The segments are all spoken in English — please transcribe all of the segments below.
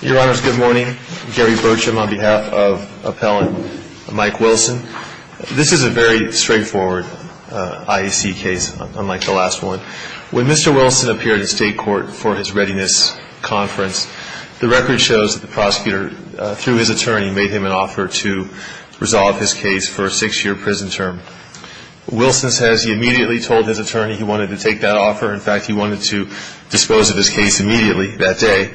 Your Honors, good morning. Gary Bircham on behalf of Appellant Mike Wilson. This is a very straightforward IAC case, unlike the last one. When Mr. Wilson appeared at State Court for his readiness conference, the record shows that the prosecutor, through his attorney, made him an offer to resolve his case for a six-year prison term. Wilson says he immediately told his attorney he wanted to take that offer. In fact, he wanted to dispose of his case immediately that day.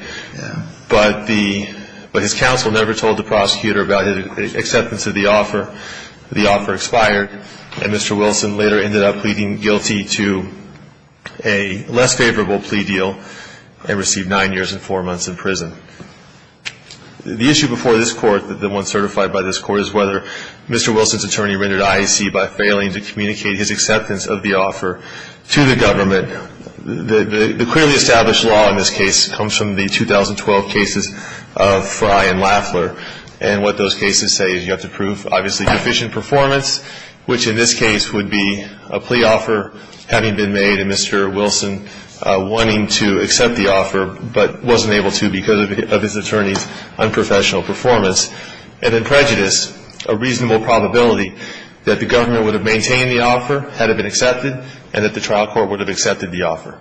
But the – but his counsel never told the prosecutor about his acceptance of the offer. The offer expired, and Mr. Wilson later ended up pleading guilty to a less favorable plea deal and received nine years and four months in prison. The issue before this Court, the one certified by this Court, is whether Mr. Wilson's attorney rendered IAC by failing to communicate his acceptance of the offer to the government. The clearly established law in this case comes from the 2012 cases of Frye and Laffler. And what those cases say is you have to prove, obviously, deficient performance, which in this case would be a plea offer having been made, and Mr. Wilson wanting to accept the offer but wasn't able to because of his attorney's unprofessional performance. And in prejudice, a reasonable probability that the government would have maintained the offer had it been accepted and that the trial court would have accepted the offer.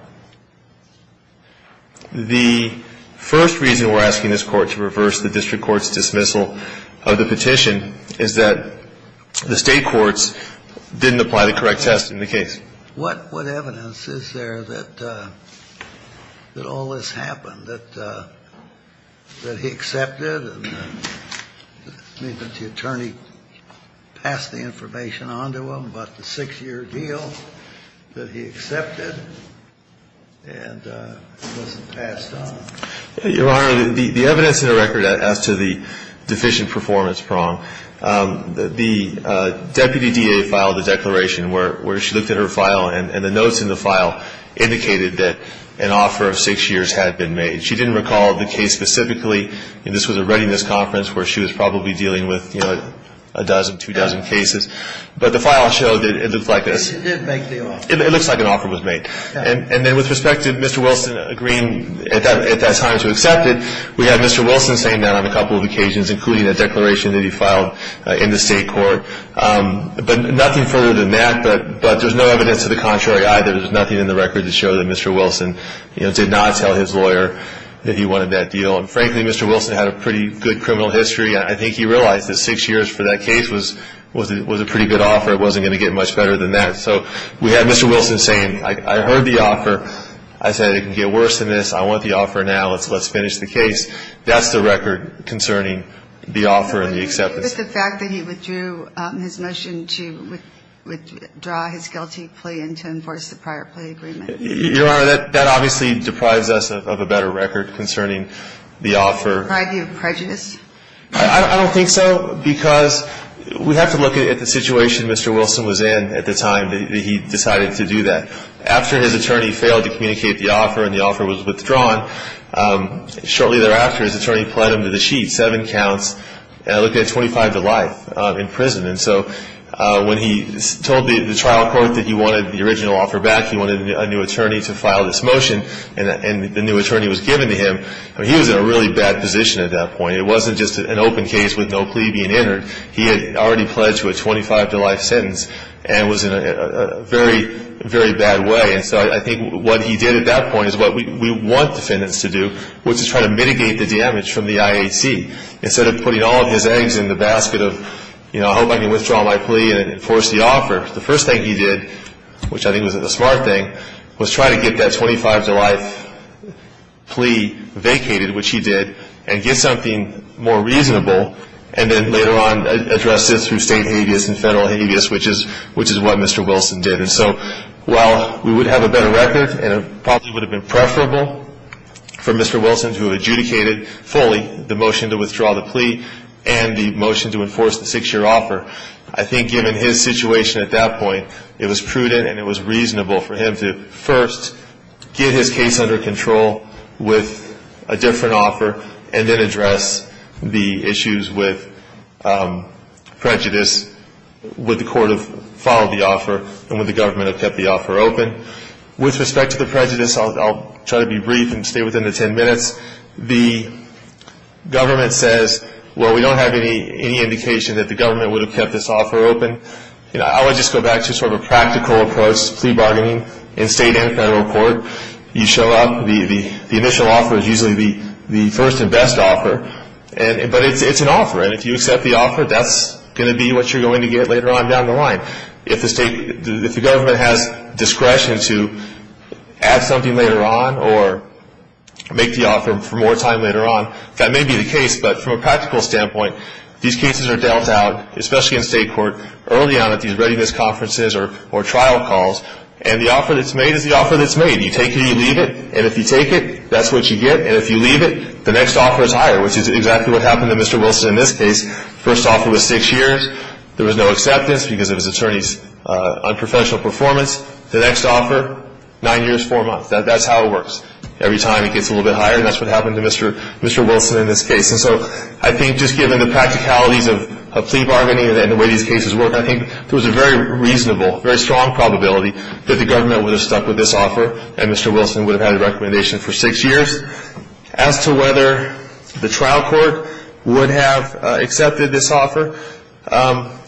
The first reason we're asking this Court to reverse the district court's dismissal of the petition is that the State courts didn't apply the correct test in the case. What evidence is there that all this happened, that he accepted and that the attorney passed the information on to him about the six-year deal, that he accepted and wasn't passed on? Your Honor, the evidence in the record as to the deficient performance prong, the deputy DA filed a declaration where she looked at her first file and the notes in the file indicated that an offer of six years had been made. She didn't recall the case specifically, and this was a readiness conference where she was probably dealing with a dozen, two dozen cases. But the file showed that it looked like this. She did make the offer. It looks like an offer was made. And then with respect to Mr. Wilson agreeing at that time to accept it, we have Mr. Wilson saying that on a couple of occasions, including a declaration that he filed in the State court. But nothing further than that. But there's no evidence to the contrary either. There's nothing in the record to show that Mr. Wilson did not tell his lawyer that he wanted that deal. And frankly, Mr. Wilson had a pretty good criminal history. I think he realized that six years for that case was a pretty good offer. It wasn't going to get much better than that. So we have Mr. Wilson saying, I heard the offer. I said it can get worse than this. I want the offer now. Let's finish the case. That's the record concerning the offer and the acceptance. But what about the fact that he withdrew his motion to withdraw his guilty plea and to enforce the prior plea agreement? Your Honor, that obviously deprives us of a better record concerning the offer. Do you have prejudice? I don't think so, because we have to look at the situation Mr. Wilson was in at the time that he decided to do that. After his attorney failed to communicate the offer and the offer was withdrawn, shortly thereafter his attorney pled him to the sheet, seven counts, and looked at 25 to life in prison. And so when he told the trial court that he wanted the original offer back, he wanted a new attorney to file this motion, and the new attorney was given to him, he was in a really bad position at that point. It wasn't just an open case with no plea being entered. He had already pledged to a 25 to life sentence and was in a very, very bad way. And so I think what he did at that point is what we want defendants to do, which is try to mitigate the damage from the IAC. Instead of putting all of his eggs in the basket of, you know, I hope I can withdraw my plea and enforce the offer, the first thing he did, which I think was a smart thing, was try to get that 25 to life plea vacated, which he did, and get something more reasonable, and then later on address it through state habeas and federal habeas, which is what Mr. Wilson did. And so while we would have a better record and it probably would have been preferable for Mr. Wilson to have adjudicated fully the motion to withdraw the plea and the motion to enforce the six-year offer, I think given his situation at that point, it was prudent and it was reasonable for him to first get his case under control with a different offer and then address the issues with prejudice would the court have followed the offer and would the government have kept the offer open. With respect to the prejudice, I'll try to be brief and stay within the 10 minutes. The government says, well, we don't have any indication that the government would have kept this offer open. You know, I would just go back to sort of a practical approach to plea bargaining in state and federal court. You show up, the initial offer is usually the first and best offer, but it's an offer, and if you accept the offer, that's going to be what you're going to get later on down the line. If the state, if the government has discretion to add something later on or make the offer for more time later on, that may be the case, but from a practical standpoint, these cases are dealt out, especially in state court, early on at these readiness conferences or trial calls, and the offer that's made is the offer that's made. You take it, you leave it, and if you take it, that's what you get, and if you leave it, the next offer is higher, which is exactly what happened to Mr. Wilson in this case. First offer was six years. There was no acceptance because of his attorney's unprofessional performance. The next offer, nine years, four months. That's how it works. Every time it gets a little bit higher, and that's what happened to Mr. Wilson in this case. And so I think just given the practicalities of plea bargaining and the way these cases work, I think there was a very reasonable, very strong probability that the government would have stuck with this offer and Mr. Wilson would have had a recommendation for six years. As to whether the trial court would have accepted this offer,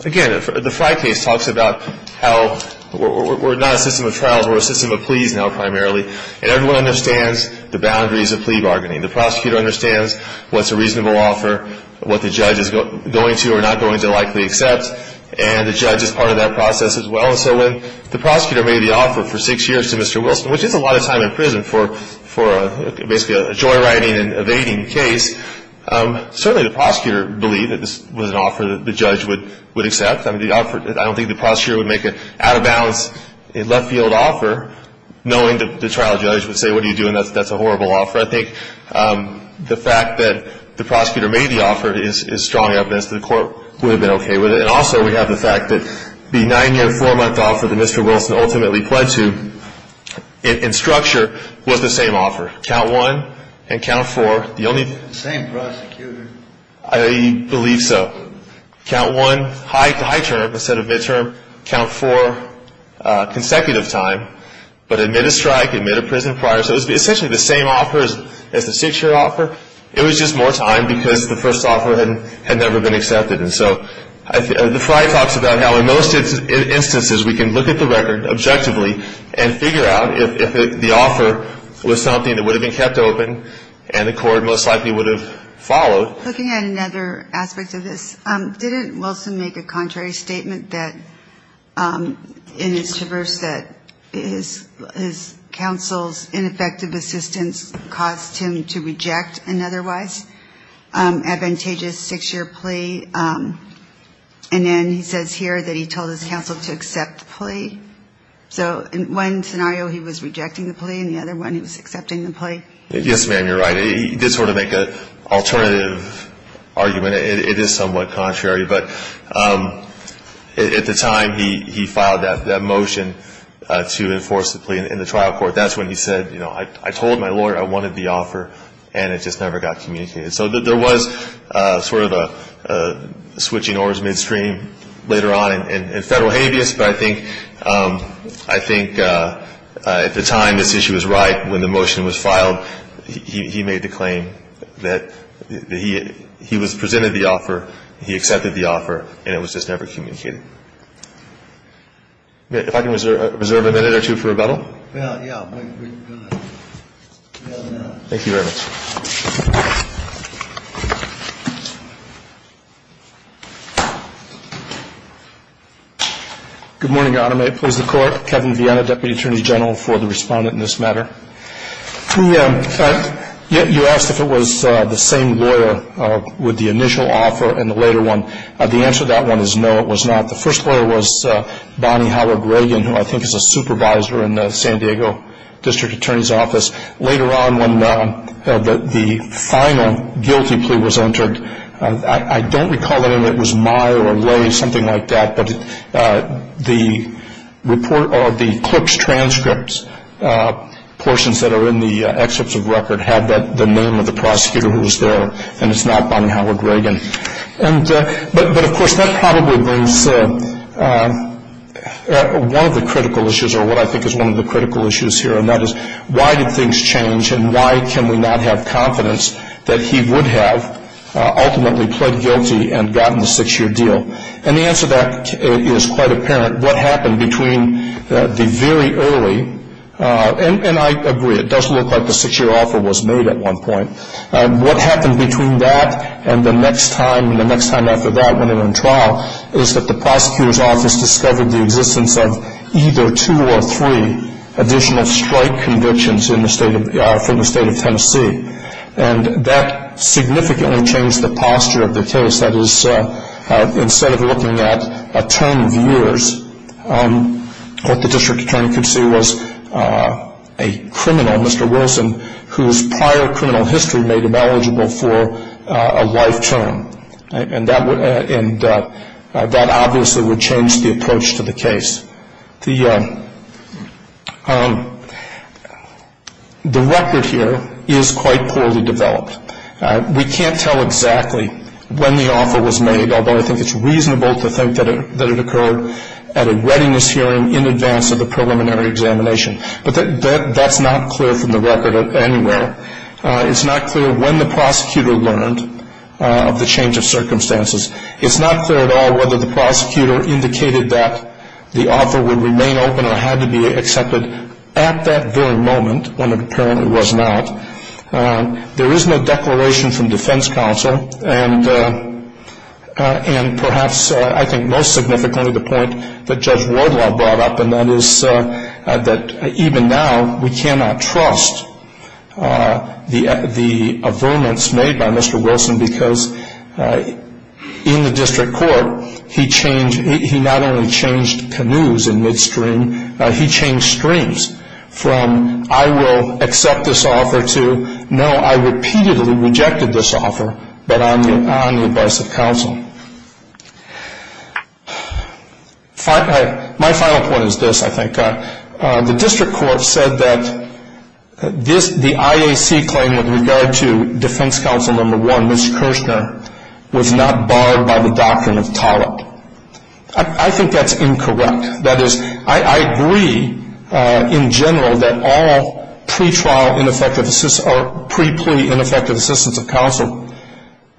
again, the Frye case talks about how we're not a system of trials, we're a system of pleas now primarily, and everyone understands the boundaries of plea bargaining. The prosecutor understands what's a reasonable offer, what the judge is going to or not going to likely accept, and the judge is part of that process as well. And so when the prosecutor made the offer for six years to Mr. Wilson, which is a lot of time in prison for basically a joyriding and evading case, certainly the prosecutor believed that this was an offer that the judge would accept. I don't think the prosecutor would make an out-of-bounds left-field offer knowing that the trial judge would say, what are you doing, that's a horrible offer. I think the fact that the prosecutor made the offer is strong evidence that the court would have been okay with it. And also we have the fact that the nine-year, four-month offer that Mr. Wilson ultimately pledged to, in structure, was the same offer. Count one and count four. The same prosecutor. I believe so. Count one, high term instead of midterm. Count four, consecutive time. But admit a strike, admit a prison prior. So it was essentially the same offer as the six-year offer. It was just more time because the first offer had never been accepted. And so the Friar talks about how in most instances we can look at the record objectively and figure out if the offer was something that would have been kept open and the court most likely would have followed. Looking at another aspect of this, didn't Wilson make a contrary statement that in his traverse that his counsel's ineffective assistance caused him to reject an otherwise advantageous six-year plea? And then he says here that he told his counsel to accept the plea. So in one scenario he was rejecting the plea and the other one he was accepting the plea? Yes, ma'am, you're right. He did sort of make an alternative argument. It is somewhat contrary. But at the time he filed that motion to enforce the plea in the trial court. That's when he said, you know, I told my lawyer I wanted the offer and it just never got communicated. So there was sort of a switching oars midstream later on in federal habeas. But I think at the time this issue was right, when the motion was filed, he made the claim that he was presented the offer, he accepted the offer, and it was just never communicated. If I can reserve a minute or two for rebuttal? Yeah, yeah, go ahead. Thank you very much. Thank you. Good morning, Your Honor. May it please the Court? Kevin Viena, Deputy Attorney General for the Respondent in this matter. You asked if it was the same lawyer with the initial offer and the later one. The answer to that one is no, it was not. The first lawyer was Bonnie Howard-Reagan, who I think is a supervisor in the San Diego District Attorney's Office. Later on, when the final guilty plea was entered, I don't recall the name. It was Meyer or Lay, something like that. But the clerk's transcripts, portions that are in the excerpts of record, had the name of the prosecutor who was there, and it's not Bonnie Howard-Reagan. But, of course, that probably was one of the critical issues, or what I think is one of the critical issues here, and that is why did things change and why can we not have confidence that he would have ultimately pled guilty and gotten the six-year deal? And the answer to that is quite apparent. What happened between the very early, and I agree, it does look like the six-year offer was made at one point. What happened between that and the next time, and the next time after that when they were in trial, is that the prosecutor's office discovered the existence of either two or three additional strike convictions from the state of Tennessee, and that significantly changed the posture of the case. That is, instead of looking at a term of years, what the district attorney could see was a criminal, Mr. Wilson, whose prior criminal history made him eligible for a life term. And that obviously would change the approach to the case. The record here is quite poorly developed. We can't tell exactly when the offer was made, although I think it's reasonable to think that it occurred at a readiness hearing in advance of the preliminary examination. But that's not clear from the record anywhere. It's not clear when the prosecutor learned of the change of circumstances. It's not clear at all whether the prosecutor indicated that the offer would remain open or had to be accepted at that very moment when it apparently was not. There is no declaration from defense counsel, and perhaps I think most significantly the point that Judge Wardlaw brought up, and that is that even now we cannot trust the affirmance made by Mr. Wilson because in the district court he not only changed canoes in midstream, he changed streams from I will accept this offer to no, I repeatedly rejected this offer, but on the advice of counsel. My final point is this, I think. The district court said that the IAC claim with regard to defense counsel number one, Mr. Kirshner, was not barred by the doctrine of TALIP. I think that's incorrect. That is, I agree in general that all pre-trial ineffective, or pre-plea ineffective assistance of counsel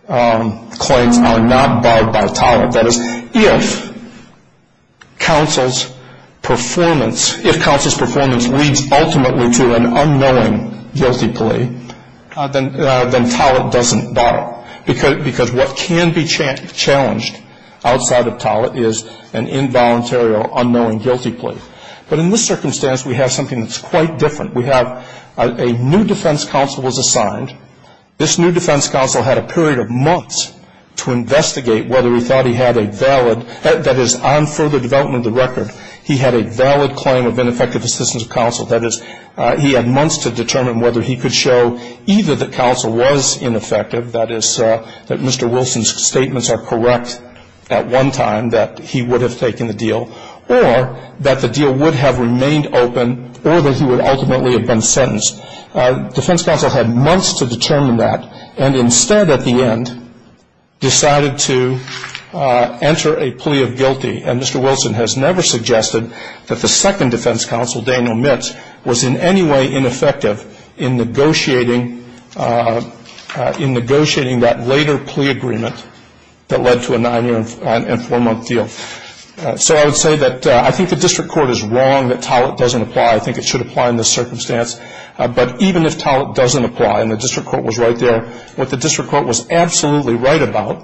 claims are not barred by TALIP. That is, if counsel's performance leads ultimately to an unknowing guilty plea, then TALIP doesn't bar. Because what can be challenged outside of TALIP is an involuntary or unknowing guilty plea. But in this circumstance we have something that's quite different. We have a new defense counsel was assigned. This new defense counsel had a period of months to investigate whether he thought he had a valid, that is, on further development of the record, he had a valid claim of ineffective assistance of counsel. That is, he had months to determine whether he could show either that counsel was ineffective, that is, that Mr. Wilson's statements are correct at one time that he would have taken the deal, or that the deal would have remained open or that he would ultimately have been sentenced. Defense counsel had months to determine that, and instead at the end decided to enter a plea of guilty. And Mr. Wilson has never suggested that the second defense counsel, Daniel Mitts, was in any way ineffective in negotiating that later plea agreement that led to a nine-year and four-month deal. So I would say that I think the district court is wrong that TALIP doesn't apply. I think it should apply in this circumstance. But even if TALIP doesn't apply, and the district court was right there, what the district court was absolutely right about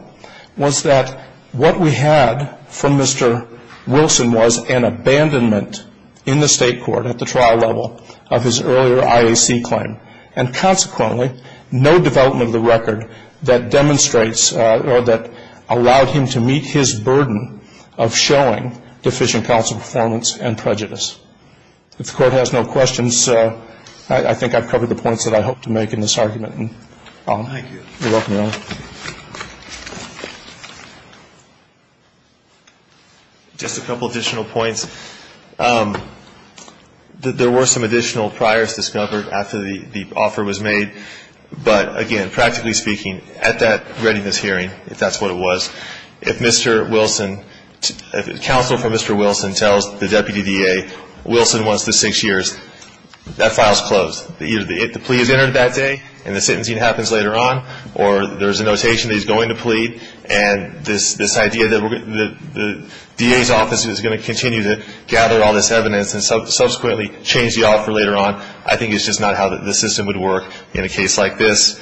was that what we had from Mr. Wilson was an abandonment in the state court at the trial level of his earlier IAC claim. And consequently, no development of the record that demonstrates or that allowed him to meet his burden of showing deficient counsel performance and prejudice. If the Court has no questions, I think I've covered the points that I hope to make in this argument. Thank you. You're welcome, Your Honor. Just a couple additional points. There were some additional priors discovered after the offer was made. But, again, practically speaking, at that readiness hearing, if that's what it was, if Mr. Wilson, if counsel for Mr. Wilson tells the deputy DA, Wilson wants the six years, that file's closed. Either the plea is entered that day and the sentencing happens later on, and this idea that the DA's office is going to continue to gather all this evidence and subsequently change the offer later on, I think is just not how the system would work in a case like this.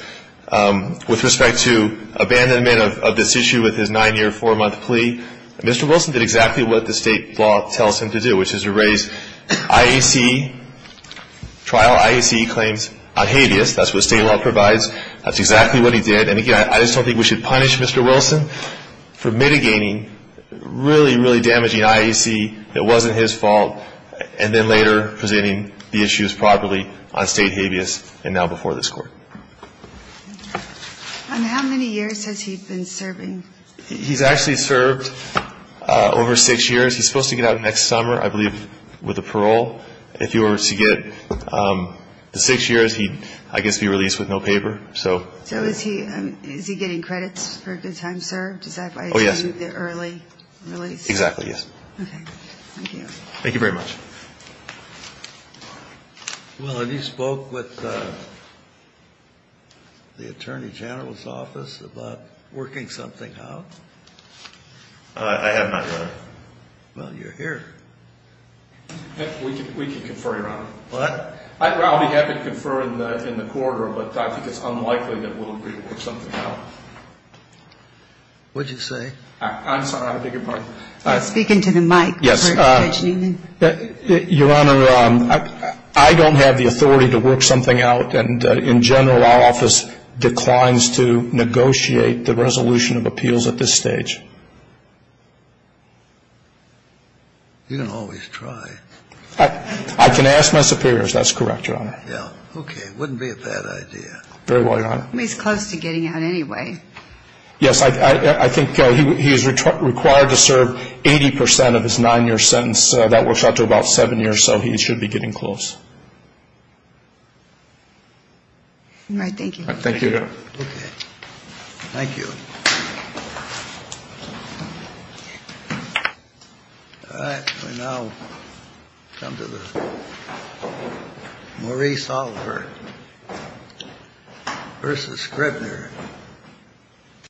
With respect to abandonment of this issue with his nine-year, four-month plea, Mr. Wilson did exactly what the state law tells him to do, which is to raise IAC, trial IAC claims on habeas. That's what state law provides. That's exactly what he did. And, again, I just don't think we should punish Mr. Wilson for mitigating really, really damaging IAC that wasn't his fault and then later presenting the issues properly on state habeas and now before this Court. How many years has he been serving? He's actually served over six years. He's supposed to get out next summer, I believe, with the parole. If he were to get the six years, he'd, I guess, be released with no paper. So is he getting credits for a good time, sir? Oh, yes. Does that apply to the early release? Exactly, yes. Okay. Thank you. Thank you very much. Well, have you spoke with the Attorney General's office about working something out? I have not, Your Honor. Well, you're here. We can confer, Your Honor. What? Well, we have to confer in the quarter, but I think it's unlikely that we'll agree to work something out. What did you say? I'm sorry. I don't take your part. I'm speaking to the mic. Yes. Your Honor, I don't have the authority to work something out, and, in general, our office declines to negotiate the resolution of appeals at this stage. You don't always try. I can ask my superiors. That's correct, Your Honor. Yeah. Okay. It wouldn't be a bad idea. Very well, Your Honor. He's close to getting out anyway. Yes. I think he is required to serve 80 percent of his nine-year sentence. That works out to about seven years, so he should be getting close. All right. Thank you. Thank you. Okay. Thank you. All right. We now come to the Maurice Oliver v. Scrivener.